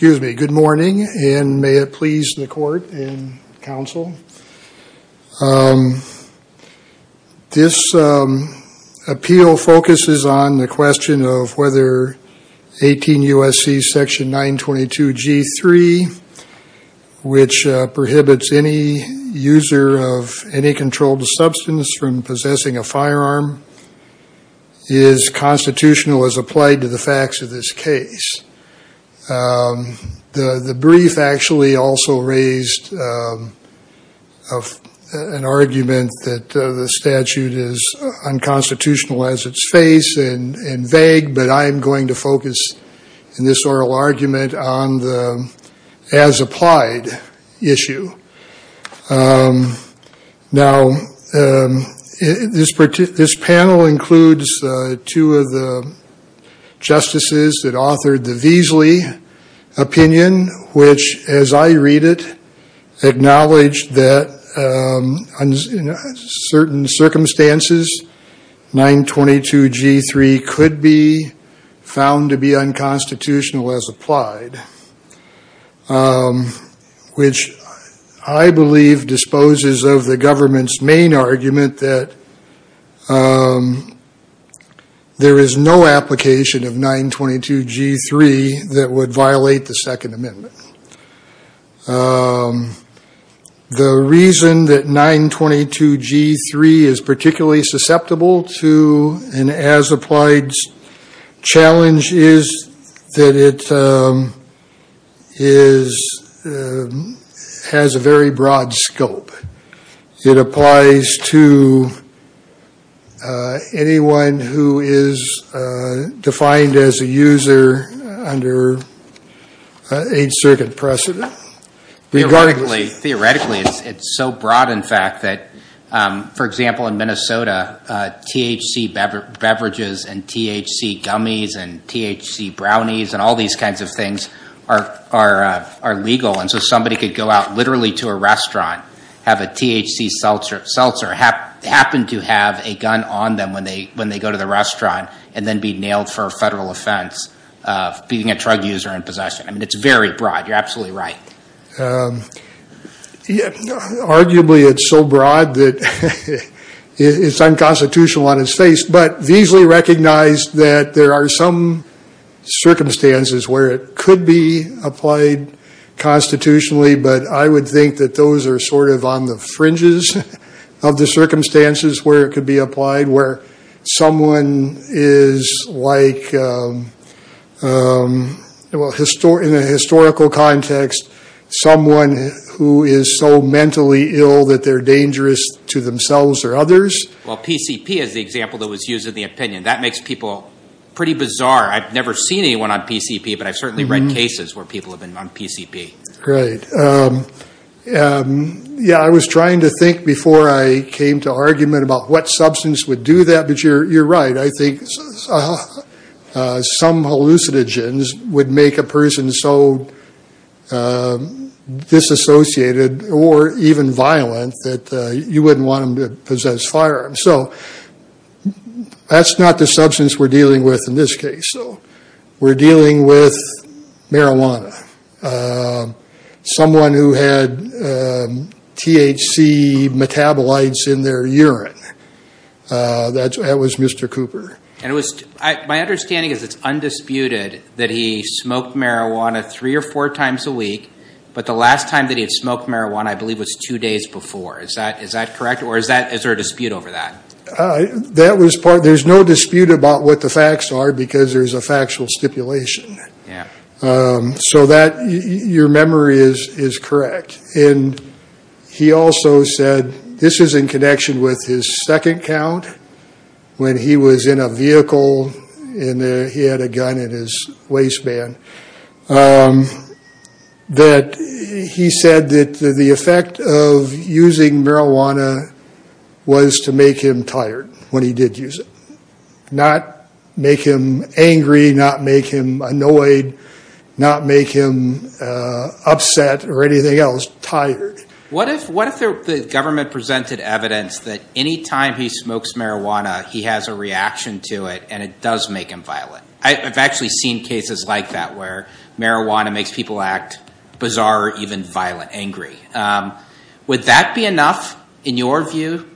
Good morning, and may it please the court and counsel, this appeal focuses on the question of whether 18 U.S.C. section 922 G3, which prohibits any user of any controlled substance from possessing a firearm, is constitutional as applied to the facts of this case. The brief actually also raised an argument that the statute is unconstitutional as its face and vague, but I am going to focus in this oral argument on the as applied issue. Now, this panel includes two of the justices that authored the Veasley opinion, which as I read it, acknowledged that in certain circumstances 922 G3 could be found to be unconstitutional as applied, which I believe disposes of the government's main argument that there is no application of 922 G3 that would violate the Second Amendment. The reason that 922 G3 is particularly susceptible to an as applied challenge is that it has a very broad scope. It applies to anyone who is defined as a user under 8th Circuit precedent. Regarding the- Theoretically, it's so broad, in fact, that, for example, in Minnesota, THC beverages and THC gummies and THC brownies and all these kinds of things are legal, and so somebody could go out literally to a restaurant, have a THC seltzer happen to have a gun on them when they go to the restaurant, and then be nailed for a federal offense of being a drug user in possession. I mean, it's very broad. You're absolutely right. Arguably, it's so broad that it's unconstitutional on its face, but Veasley recognized that there are some circumstances where it could be applied constitutionally, but I would think that those are sort of on the fringes of the circumstances where it could be applied, where someone is like, in a historical context, someone who is so mentally ill that they're dangerous to themselves or others. Well, PCP is the example that was used in the opinion. That makes people pretty bizarre. I've never seen anyone on PCP, but I've certainly read cases where people have been on PCP. Great. Yeah, I was trying to think before I came to argument about what substance would do that, but you're right. I think some hallucinogens would make a person so disassociated or even violent that you wouldn't want them to possess firearms. So that's not the substance we're dealing with in this case. So we're dealing with marijuana. Someone who had THC metabolites in their urine. That was Mr. Cooper. And my understanding is it's undisputed that he smoked marijuana three or four times a week, but the last time that he had smoked marijuana, I believe, was two days before. Is that correct? Or is there a dispute over that? That was part. There's no dispute about what the facts are because there's a factual stipulation. So that your memory is correct. And he also said this is in connection with his second count when he was in a vehicle and he had a gun in his waistband, that he said that the effect of using marijuana was to make him tired when he did use it. Not make him angry, not make him annoyed, not make him upset or anything else. Tired. What if the government presented evidence that any time he smokes marijuana, he has a reaction to it and it does make him violent. I've actually seen cases like that where marijuana makes people act bizarre, even violent, angry. Would that be enough, in your view,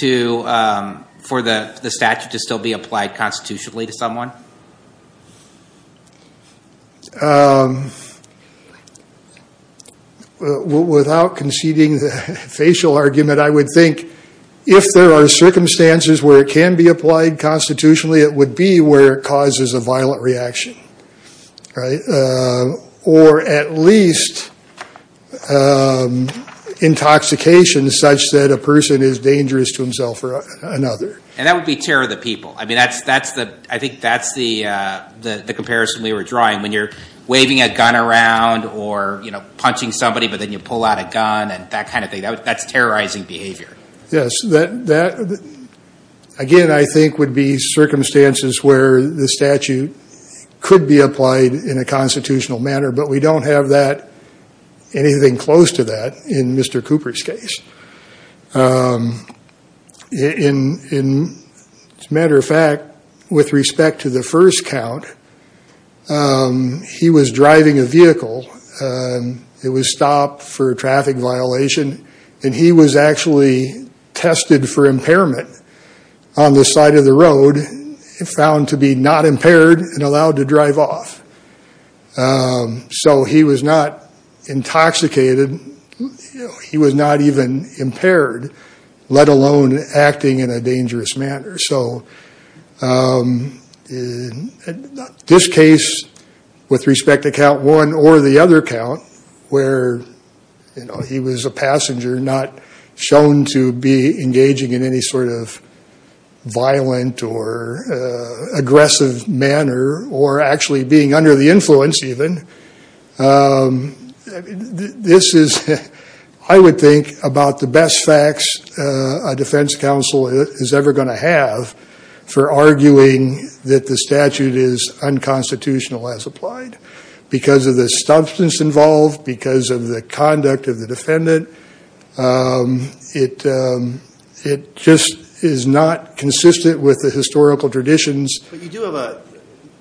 for the statute to still be applied constitutionally to someone? Without conceding the facial argument, I would think if there are circumstances where it can be applied constitutionally, it would be where it causes a violent reaction. Or at least intoxication such that a person is dangerous to himself or another. And that would be terror of the people. I think that's the comparison we were drawing. When you're waving a gun around or punching somebody, but then you pull out a gun and that kind of thing, that's terrorizing behavior. Yes. Again, I think would be circumstances where the statute could be applied in a constitutional manner, but we don't have anything close to that in Mr. Cooper's case. As a matter of fact, with respect to the first count, he was driving a vehicle. It was stopped for traffic violation and he was actually tested for impairment on the side of the road, found to be not impaired and allowed to drive off. So he was not intoxicated. He was not even impaired, let alone acting in a dangerous manner. So in this case, with respect to count one or the other count, where he was a passenger, not shown to be engaging in any sort of violent or aggressive manner or actually being under the influence even, this is, I would think, about the best facts a defense counsel is ever going to have for arguing that the statute is unconstitutional as applied because of the substance involved, because of the conduct of the defendant. It just is not consistent with the historical traditions. But you do have a,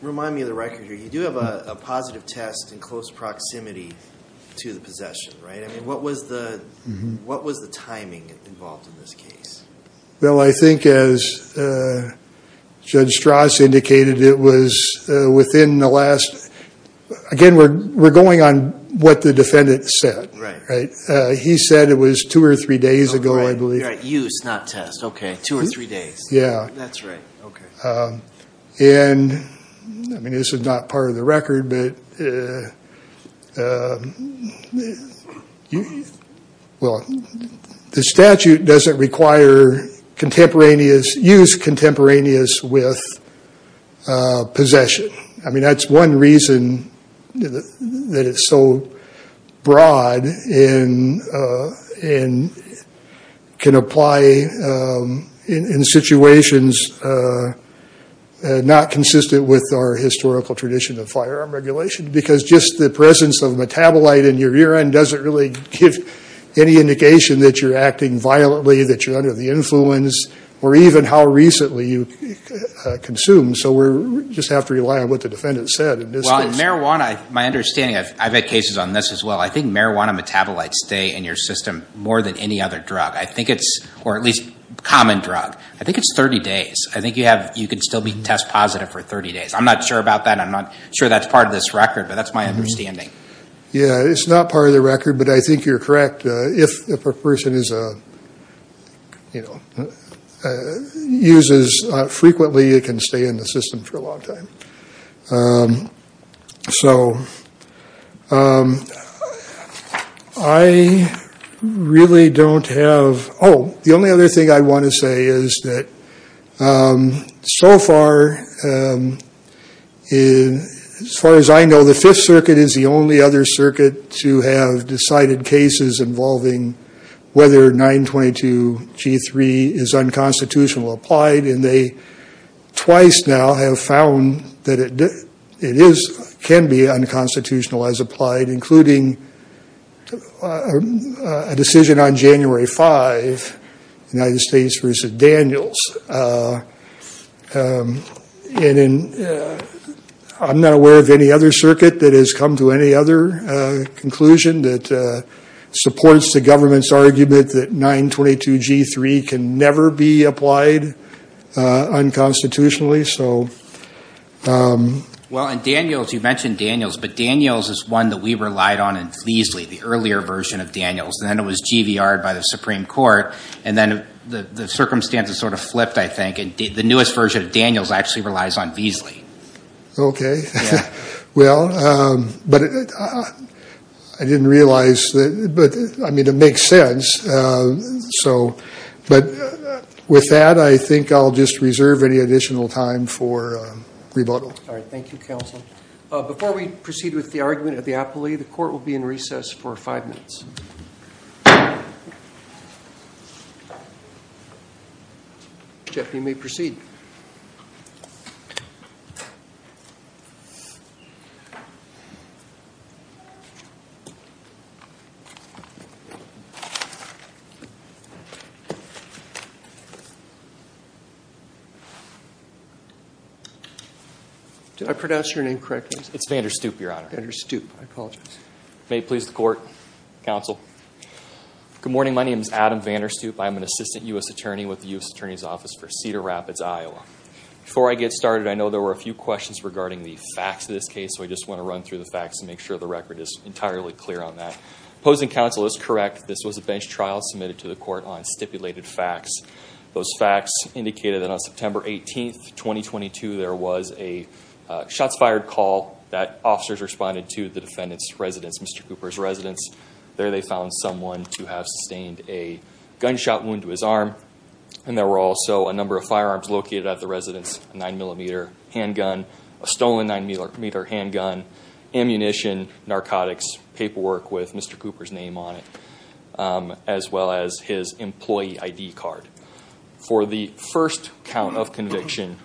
remind me of the record here, you do have a positive test in close proximity to the possession, right? I mean, what was the timing involved in this case? Well, I think as Judge Strauss indicated, it was within the last, again, we're going on what the defendant said. Right. He said it was two or three days ago, I believe. Right, use, not test. Okay, two or three days. Yeah. That's right. Okay. And, I mean, this is not part of the record, but, well, the statute doesn't require contemporaneous, use contemporaneous with possession. I mean, that's one reason that it's so broad and can apply in situations not consistent with our historical tradition of firearm regulation because just the presence of metabolite in your urine doesn't really give any indication that you're acting violently, that you're under the influence, or even how recently you consumed. So, we just have to rely on what the defendant said in this case. Well, in marijuana, my understanding, I've had cases on this as well, I think marijuana metabolites stay in your system more than any other drug. I think it's, or at least common drug, I think it's 30 days. I think you have, you can still be test positive for 30 days. I'm not sure about that. I'm not sure that's part of this record, but that's my understanding. Yeah, it's not part of the record, but I think you're correct. If a person is a, you know, uses frequently, it can stay in the system for a long time. So, I really don't have, oh, the only other thing I want to say is that so far, as far as I know, the Fifth Circuit is the only other circuit to have decided cases involving whether 922 G3 is unconstitutional or applied, and they twice now have found that it is, can be unconstitutional as applied, including a decision on January 5, United States v. Daniels, and I'm not aware of any other circuit that has come to any other conclusion that supports the government's argument that 922 G3 can never be applied unconstitutionally, so. Well, and Daniels, you mentioned Daniels, but Daniels is one that we relied on in Fleasley, the earlier version of Daniels, and then it was GVR'd by the Supreme Court, and then the circumstances sort of flipped, I think, and the newest version of Daniels actually relies on Fleasley. Okay, well, but I didn't realize that, but, I mean, it makes sense, so. But with that, I think I'll just reserve any additional time for rebuttal. All right, thank you, Counsel. Before we proceed with the argument of the appellee, the Court will be in recess for five minutes. Jeff, you may proceed. Did I pronounce your name correctly? It's Vanderstoep, Your Honor. Vanderstoep, I apologize. May it please the Court, Counsel. Good morning, my name is Adam Vanderstoep, I'm an Assistant U.S. Attorney with the U.S. Attorney's Office for Cedar Rapids, Iowa. Before I get started, I know there were a few questions regarding the facts of this case, so I just want to run through the facts and make sure the record is entirely clear on that. Opposing Counsel is correct, this was a bench trial submitted to the Court on stipulated facts. Those facts indicated that on September 18th, 2022, there was a shots fired call that officers responded to the defendant's residence, Mr. Cooper's residence. There they found someone to have sustained a gunshot wound to his arm, and there were also a number of firearms located at the residence, a 9mm handgun, a stolen 9mm handgun, ammunition, narcotics, paperwork with Mr. Cooper's name on it, as well as his employee ID card. For the first count of conviction,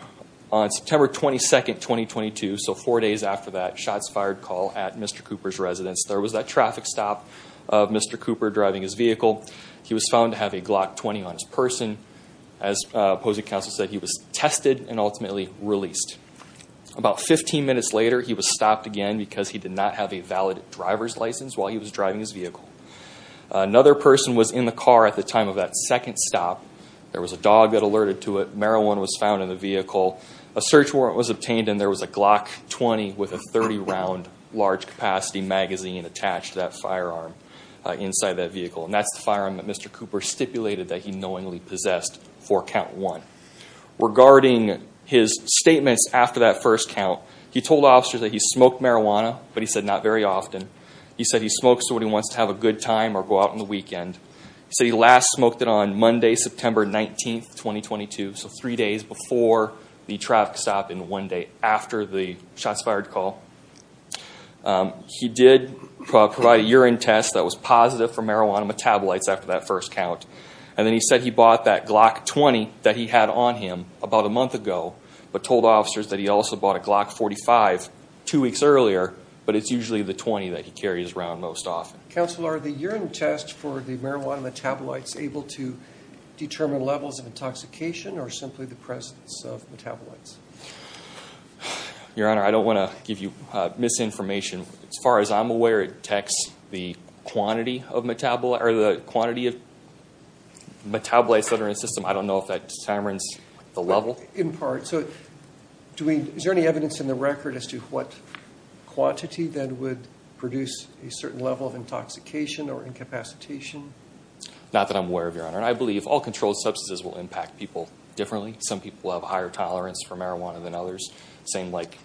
on September 22nd, 2022, so four days after that shots fired call at Mr. Cooper's residence, there was that traffic stop of Mr. Cooper driving his vehicle. He was found to have a Glock 20 on his person. As Opposing Counsel said, he was tested and ultimately released. About 15 minutes later, he was stopped again because he did not have a valid driver's license while he was driving his vehicle. Another person was in the car at the time of that second stop. There was a dog that alerted to it. Marijuana was found in the vehicle. A search warrant was obtained and there was a Glock 20 with a 30-round large capacity magazine attached to that firearm inside that vehicle. And that's the firearm that Mr. Cooper stipulated that he knowingly possessed for count one. Regarding his statements after that first count, he told officers that he smoked marijuana, but he said not very often. He said he smokes when he wants to have a good time or go out on the weekend. He said he last smoked it on Monday, September 19th, 2022, so three days before the traffic stop and one day after the shots fired call. He did provide a urine test that was positive for marijuana metabolites after that first count. And then he said he bought that Glock 20 that he had on him about a month ago, but told officers that he also bought a Glock 45 two weeks earlier, but it's usually the 20 that he carries around most often. Counselor, are the urine tests for the marijuana metabolites able to determine levels of intoxication or simply the presence of metabolites? Your Honor, I don't want to give you misinformation. As far as I'm aware, it detects the quantity of metabolites that are in the system. I don't know if that determines the level. In part. So, is there any evidence in the record as to what quantity that would produce a certain level of intoxication or incapacitation? Not that I'm aware of, Your Honor. I believe all controlled substances will impact people differently. Some people have higher tolerance for marijuana than others. Same like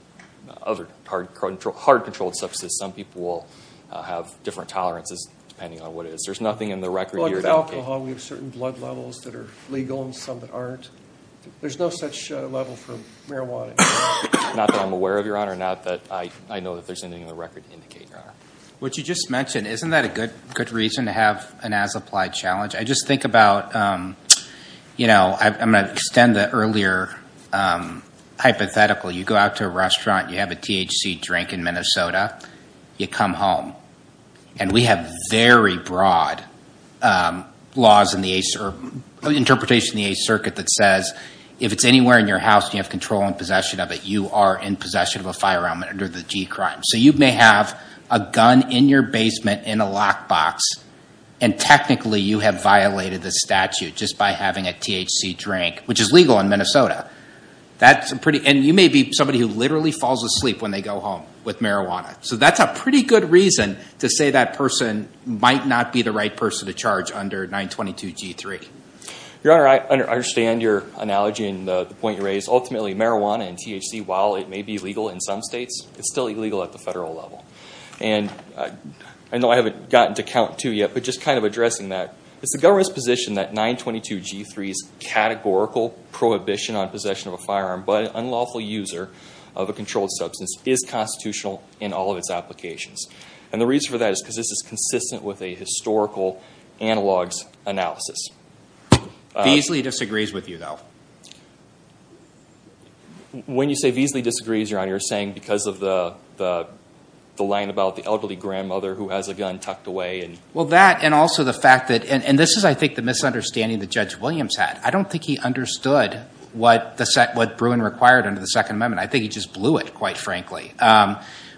other hard controlled substances. Some people will have different tolerances depending on what it is. There's nothing in the record here. With alcohol, we have certain blood levels that are legal and some that aren't. There's no such level for marijuana. Not that I'm aware of, Your Honor. Not that I know that there's anything in the record to indicate, Your Honor. What you just mentioned, isn't that a good reason to have an as-applied challenge? I just think about, you know, I'm going to extend the earlier hypothetical. You go out to a restaurant. You have a THC drink in Minnesota. You come home. And we have very broad laws or interpretation in the Eighth Circuit that says if it's anywhere in your house and you have control and possession of it, you are in possession of a firearm under the G-crime. So you may have a gun in your basement in a lockbox. And technically, you have violated the statute just by having a THC drink, which is legal in Minnesota. And you may be somebody who literally falls asleep when they go home with marijuana. So that's a pretty good reason to say that person might not be the right person to charge under 922 G-3. Your Honor, I understand your analogy and the point you raised. Ultimately, marijuana and THC, while it may be legal in some states, it's still illegal at the federal level. And I know I haven't gotten to count two yet, but just kind of addressing that. It's the government's position that 922 G-3's categorical prohibition on possession of a firearm by an unlawful user of a controlled substance is constitutional in all of its applications. And the reason for that is because this is consistent with a historical analogs analysis. Beasley disagrees with you, though. When you say Beasley disagrees, Your Honor, you're saying because of the line about the elderly grandmother who has a gun tucked away. Well, that and also the fact that, and this is, I think, the misunderstanding that Judge Williams had. I don't think he understood what Bruin required under the Second Amendment. I think he just blew it, quite frankly.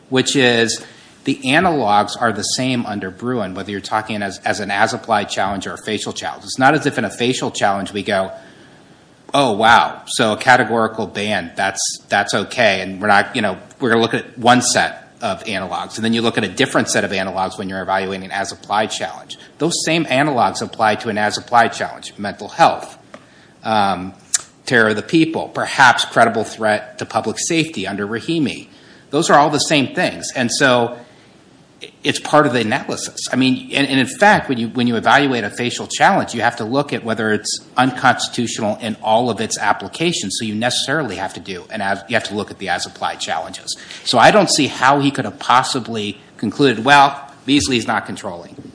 Which is the analogs are the same under Bruin, whether you're talking as an as-applied challenge or a facial challenge. It's not as if in a facial challenge we go, oh, wow. So a categorical ban, that's OK. And we're going to look at one set of analogs. And then you look at a different set of analogs when you're evaluating an as-applied challenge. Those same analogs apply to an as-applied challenge, mental health, terror of the people, perhaps credible threat to public safety under Rahimi. Those are all the same things. And so it's part of the analysis. And in fact, when you evaluate a facial challenge, you have to look at whether it's unconstitutional in all of its applications. So you necessarily have to look at the as-applied challenges. So I don't see how he could have possibly concluded, well, Beasley's not controlling.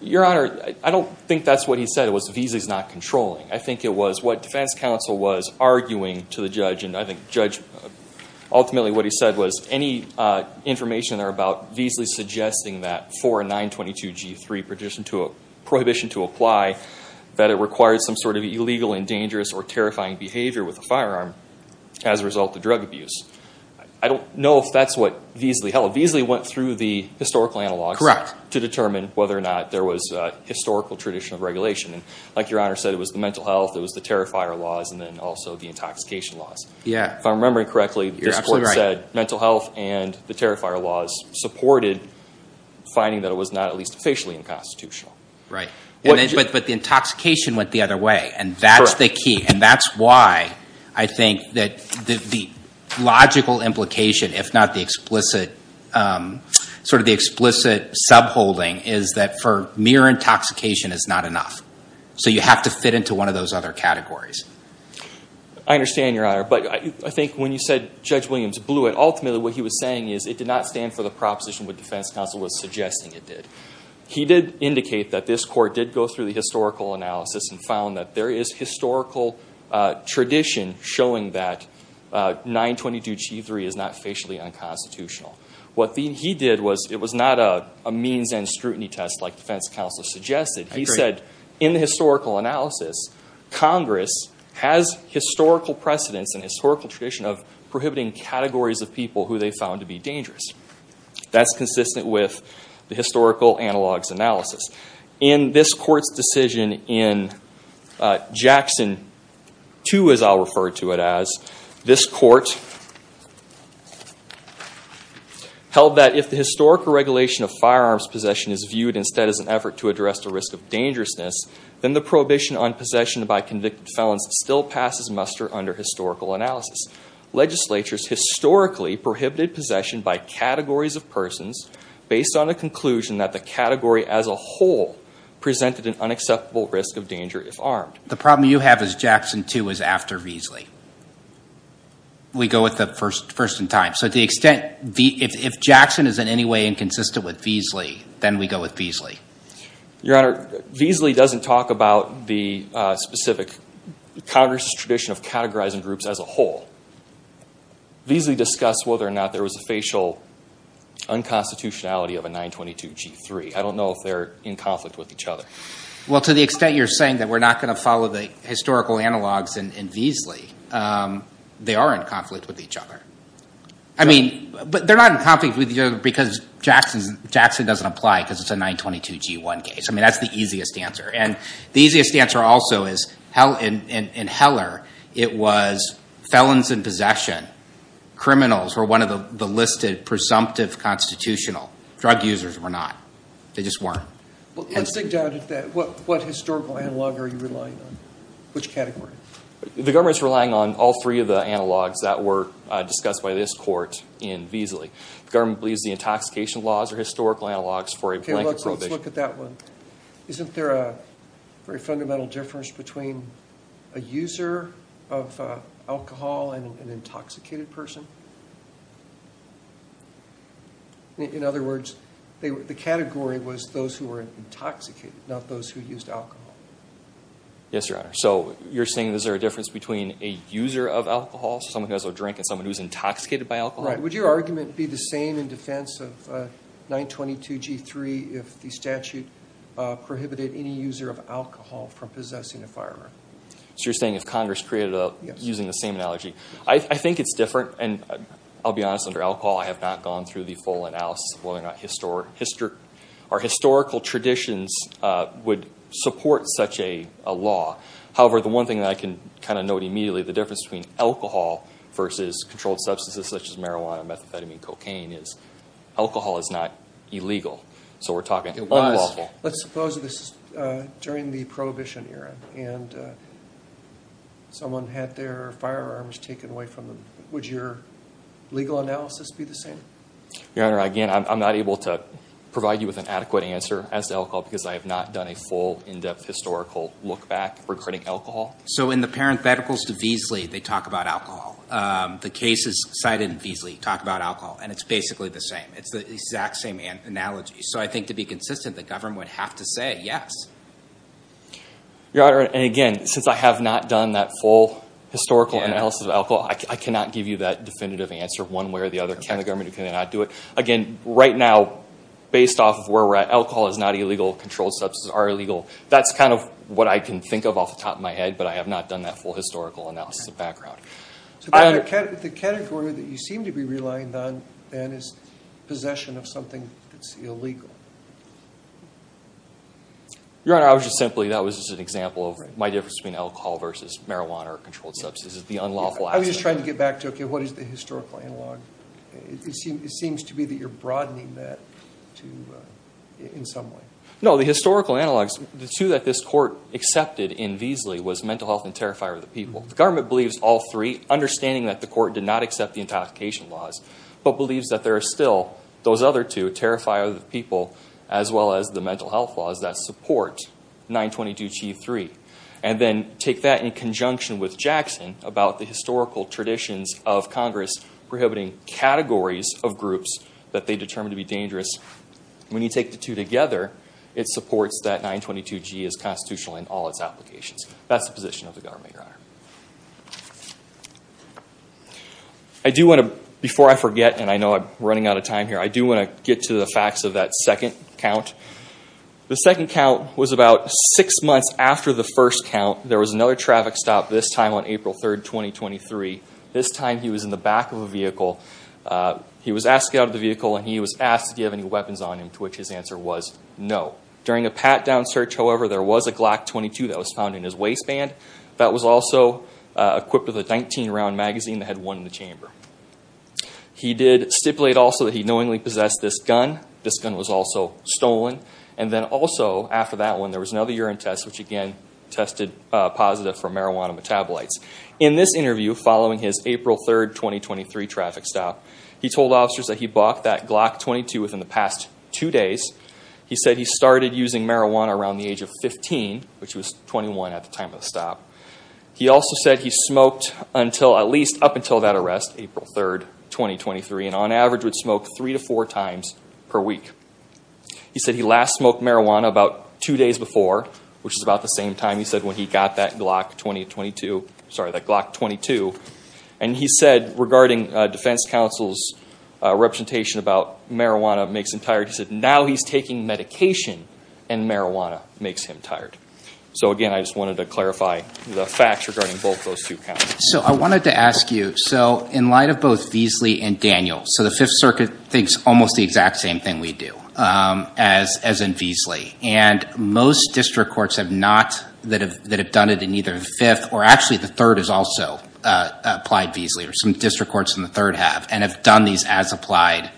Your Honor, I don't think that's what he said. It was Beasley's not controlling. I think it was what defense counsel was arguing to the judge. And I think ultimately what he said was any information there about Beasley suggesting that for a 922G3 prohibition to apply, that it requires some sort of illegal and dangerous or terrifying behavior with a firearm as a result of drug abuse. I don't know if that's what Beasley held. Beasley went through the historical analogs to determine whether or not there was a historical tradition of regulation. And like Your Honor said, it was the mental health, it was the terrifier laws, and then also the intoxication laws. If I'm remembering correctly, this court said mental health and the terrifier laws supported finding that it was not at least facially unconstitutional. But the intoxication went the other way. And that's the key. And that's why I think that the logical implication, if not the explicit subholding, is that for mere intoxication is not enough. So you have to fit into one of those other categories. I understand, Your Honor. But I think when you said Judge Williams blew it, ultimately what he was saying is it did not stand for the proposition what defense counsel was suggesting it did. He did indicate that this court did go through the historical analysis and found that there is historical tradition showing that 922g3 is not facially unconstitutional. What he did was it was not a means and scrutiny test like defense counsel suggested. He said in the historical analysis, Congress has historical precedence and historical tradition of prohibiting categories of people who they found to be dangerous. That's consistent with the historical analogs analysis. In this court's decision in Jackson 2, as I'll refer to it as, this court held that if the historical regulation of firearms possession is viewed instead as an effort to address the risk of dangerousness, then the prohibition on possession by convicted felons still passes muster under historical analysis. Legislatures historically prohibited possession by categories of persons based on the conclusion that the category as a whole presented an unacceptable risk of danger if armed. The problem you have is Jackson 2 is after Veasley. We go with the first in time. So to the extent, if Jackson is in any way inconsistent with Veasley, then we go with Veasley. Your Honor, Veasley doesn't talk about the specific Congress's tradition of categorizing groups as a whole. Veasley discussed whether or not there was a facial unconstitutionality of a 922 G3. I don't know if they're in conflict with each other. Well, to the extent you're saying that we're not going to follow the historical analogs in Veasley, they are in conflict with each other. I mean, but they're not in conflict with each other because Jackson doesn't apply because it's a 922 G1 case. I mean, that's the easiest answer. The easiest answer also is in Heller, it was felons in possession. Criminals were one of the listed presumptive constitutional. Drug users were not. They just weren't. Well, let's dig down into that. What historical analog are you relying on? Which category? The government's relying on all three of the analogs that were discussed by this court in Veasley. The government believes the intoxication laws are historical analogs for a blanket group. Let's look at that one. Isn't there a very fundamental difference between a user of alcohol and an intoxicated person? In other words, the category was those who were intoxicated, not those who used alcohol. Yes, Your Honor. So you're saying is there a difference between a user of alcohol, someone who has a drink, and someone who's intoxicated by alcohol? Right. Would your argument be the same in defense of 922 G3 if the statute prohibited any user of alcohol from possessing a firearm? So you're saying if Congress created a using the same analogy. I think it's different. And I'll be honest, under alcohol, I have not gone through the full analysis of whether or not historical traditions would support such a law. However, the one thing that I can kind of note immediately, the difference between alcohol versus controlled substances such as marijuana, methamphetamine, and cocaine is alcohol is not illegal. So we're talking unlawful. Let's suppose this is during the Prohibition era, and someone had their firearms taken away from them. Would your legal analysis be the same? Your Honor, again, I'm not able to provide you with an adequate answer as to alcohol because I have not done a full in-depth historical look back regarding alcohol. So in the parentheticals to Beasley, they talk about alcohol. The cases cited in Beasley talk about alcohol. And it's basically the same. It's the exact same analogy. So I think to be consistent, the government would have to say yes. Your Honor, and again, since I have not done that full historical analysis of alcohol, I cannot give you that definitive answer one way or the other. And the government cannot do it. Again, right now, based off of where we're at, alcohol is not illegal. Controlled substances are illegal. That's kind of what I can think of off the top of my head. But I have not done that full historical analysis of background. The category that you seem to be relying on, then, is possession of something that's illegal. Your Honor, I was just simply, that was just an example of my difference between alcohol versus marijuana or controlled substances, the unlawful access. I'm just trying to get back to, OK, what is the historical analog? It seems to be that you're broadening that in some way. No, the historical analogs, the two that this court accepted in Veasley was mental health and terrifier of the people. The government believes all three, understanding that the court did not accept the intoxication laws, but believes that there are still those other two, terrifier of the people, as well as the mental health laws that support 922g3. And then take that in conjunction with Jackson about the historical traditions of Congress prohibiting categories of groups that they determined to be dangerous. When you take the two together, it supports that 922g is constitutional in all its applications. That's the position of the government, Your Honor. I do want to, before I forget, and I know I'm running out of time here, I do want to get to the facts of that second count. The second count was about six months after the first count. There was another traffic stop, this time on April 3rd, 2023. This time he was in the back of a vehicle. He was asked to get out of the vehicle, and he was asked, do you have any weapons on him, to which his answer was no. During a pat-down search, however, there was a Glock 22 that was found in his waistband that was also equipped with a 19-round magazine that had one in the chamber. He did stipulate also that he knowingly possessed this gun. This gun was also stolen. And then also, after that one, there was another urine test, which again, tested positive for marijuana metabolites. In this interview, following his April 3rd, 2023 traffic stop, he told officers that he bought that Glock 22 within the past two days. He said he started using marijuana around the age of 15, which was 21 at the time of the stop. He also said he smoked until, at least up until that arrest, April 3rd, 2023, and on average would smoke three to four times per week. He said he last smoked marijuana about two days before, which is about the same time he said when he got that Glock 22, sorry, that Glock 22. And he said, regarding defense counsel's representation about marijuana makes him tired, he said, now he's taking medication and marijuana makes him tired. So again, I just wanted to clarify the facts regarding both those two counts. So I wanted to ask you, so in light of both Veasley and Daniel, so the Fifth Circuit thinks almost the exact same thing we do as in Veasley. And most district courts have not, that have done it in either the Fifth, or actually the Third has also applied Veasley, or some district courts in the Third have, and have done these as-applied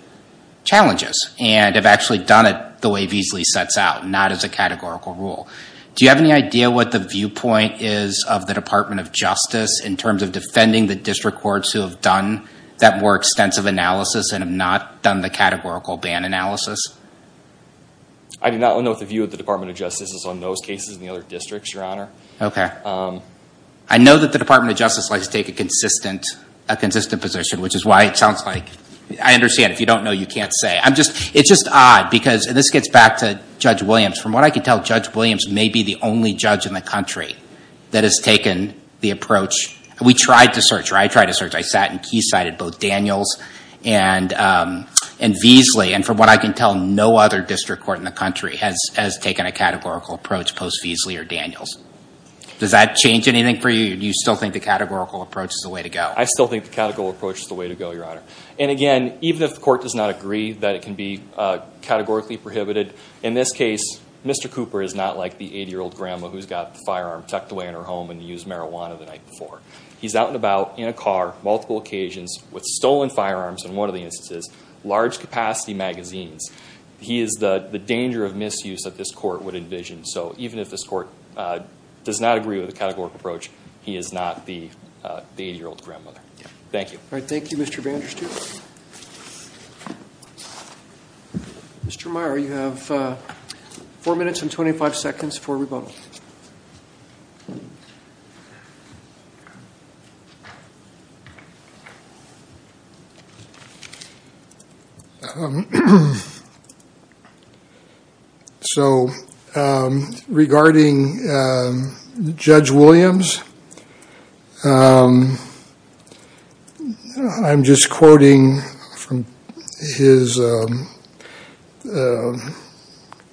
challenges, and have actually done it the way Veasley sets out, not as a categorical rule. Do you have any idea what the viewpoint is of the Department of Justice in terms of defending the district courts who have done that more extensive analysis and have not done the categorical ban analysis? I do not know what the view of the Department of Justice is on those cases and the other districts, Your Honor. I know that the Department of Justice likes to take a consistent, a consistent position, which is why it sounds like, I understand if you don't know, you can't say. I'm just, it's just odd, because, and this gets back to Judge Williams, from what I can tell, Judge Williams may be the only judge in the country that has taken the approach, we tried to search, or I tried to search, I sat in Quayside at both Daniel's and Veasley, and from what I can tell, no other district court in the country has taken a categorical approach post-Veasley or Daniel's. Does that change anything for you? Do you still think the categorical approach is the way to go? I still think the categorical approach is the way to go, Your Honor. And again, even if the court does not agree that it can be categorically prohibited, in this case, Mr. Cooper is not like the 80-year-old grandma who's got the firearm tucked away in her home and used marijuana the night before. He's out and about, in a car, multiple occasions, with stolen firearms in one of the instances, large-capacity magazines. He is the danger of misuse that this court would envision. So even if this court does not agree with the categorical approach, he is not the 80-year-old grandmother. Thank you. All right. Thank you, Mr. Vanderstein. Mr. Meyer, you have four minutes and 25 seconds for rebuttal. So regarding Judge Williams, I'm just quoting from his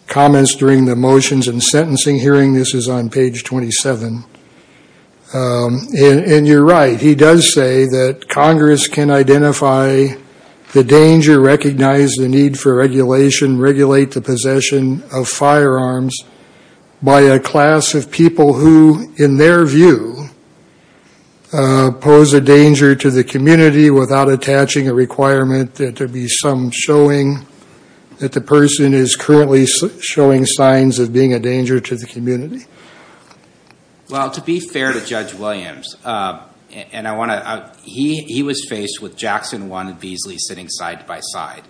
comments during the motions and sentencing hearing. This is on page 27. And you're right. He does say that Congress can identify the danger, recognize the need for regulation, regulate the possession of firearms by a class of people who, in their view, pose a danger to the community without attaching a requirement that there be some showing that the person is currently showing signs of being a danger to the community. Well, to be fair to Judge Williams, and I want to, he was faced with Jackson 1 and Beasley sitting side by side.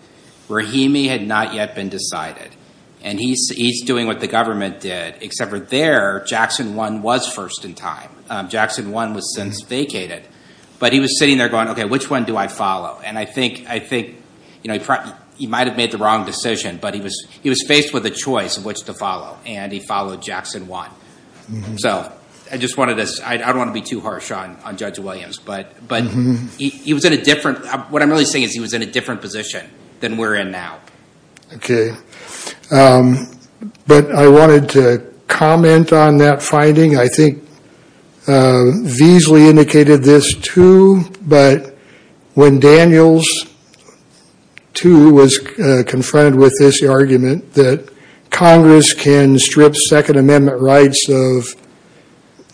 Rahimi had not yet been decided. And he's doing what the government did, except for there, Jackson 1 was first in time. Jackson 1 was since vacated. But he was sitting there going, OK, which one do I follow? And I think he might have made the wrong decision. But he was faced with a choice of which to follow. And he followed Jackson 1. So I just wanted to, I don't want to be too harsh on Judge Williams. But he was in a different, what I'm really saying is he was in a different position than we're in now. OK. But I wanted to comment on that finding. I think Beasley indicated this, too. But when Daniels, too, was confronted with this argument that Congress can strip Second Amendment rights of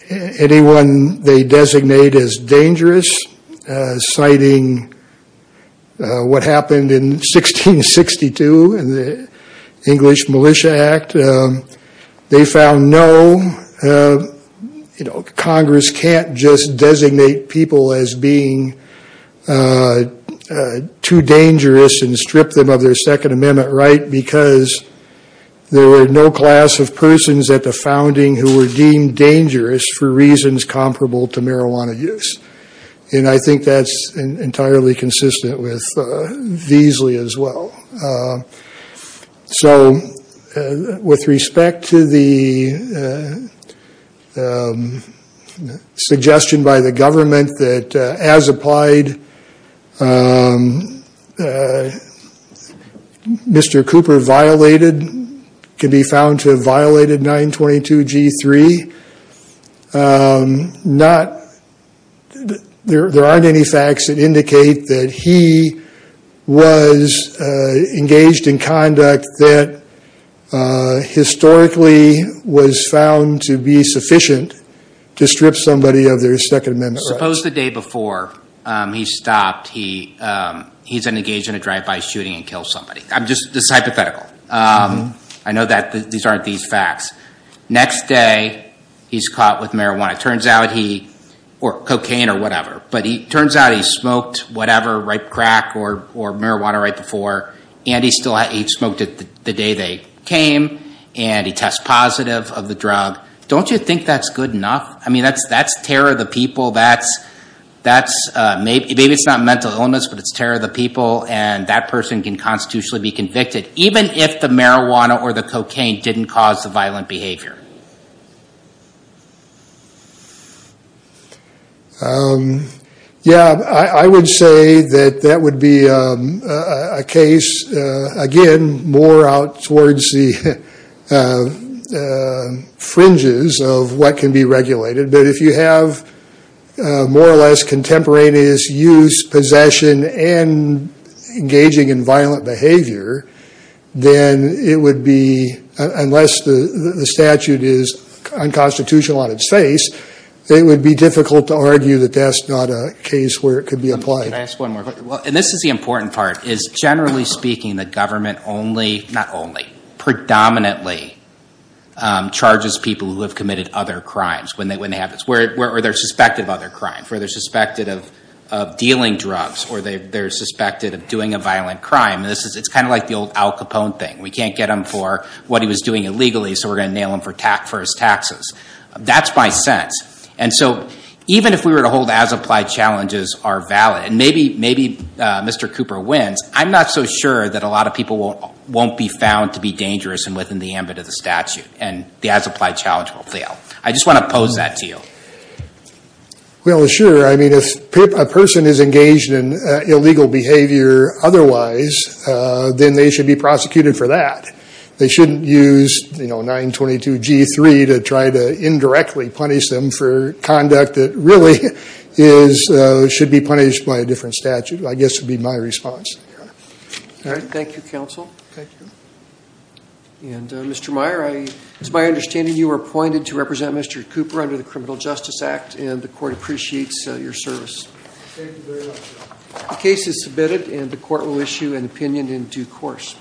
anyone they designate as dangerous, citing what happened in 1662 in the English Militia Act, they found no, Congress can't just designate people as being too dangerous and strip them of their Second Amendment right because there were no class of persons at the founding who were deemed dangerous for reasons comparable to marijuana use. And I think that's entirely consistent with Beasley as well. So with respect to the suggestion by the government that, as applied, Mr. Cooper violated, could be found to have violated 922 G3, there aren't any facts that indicate that he was engaged in conduct that historically was found to be sufficient to strip somebody of their Second Amendment rights. Suppose the day before he stopped, he's engaged in a drive-by shooting and killed somebody. I'm just, this is hypothetical. I know that these aren't these facts. Next day, he's caught with marijuana. It turns out he, or cocaine or whatever, but it turns out he smoked whatever, ripe crack or marijuana, right before. And he smoked it the day they came. And he tests positive of the drug. Don't you think that's good enough? I mean, that's terror of the people. That's, maybe it's not mental illness, but it's terror of the people. And that person can constitutionally be convicted, even if the marijuana or the cocaine didn't cause the violent behavior. Yeah, I would say that that would be a case, again, more out towards the fringes of what can be regulated. But if you have more or less contemporaneous use, possession, and engaging in violent behavior, then it would be, unless the statute is unconstitutional on its face, it would be difficult to argue that that's not a case where it could be applied. Can I ask one more question? Well, and this is the important part, is generally speaking, the government only, not only, predominantly charges people who have committed other crimes. Or they're suspected of other crimes. Or they're suspected of dealing drugs. Or they're suspected of doing a violent crime. And it's kind of like the old Al Capone thing. We can't get him for what he was doing illegally, so we're going to nail him for his taxes. That's my sense. And so even if we were to hold as-applied challenges are valid, and maybe Mr. Cooper wins, I'm not so sure that a lot of people won't be found to be dangerous and within the ambit of the statute. And the as-applied challenge will fail. I just want to pose that to you. Well, sure. I mean, if a person is engaged in illegal behavior otherwise, then they should be prosecuted for that. They shouldn't use, you know, 922 G3 to try to indirectly punish them for conduct that really is, should be punished by a different statute. I guess would be my response. All right. Thank you, counsel. Thank you. And Mr. Meyer, it's my understanding you were appointed to represent Mr. Cooper under the Criminal Justice Act, and the court appreciates your service. Thank you very much, Your Honor. The case is submitted, and the court will issue an opinion in due course.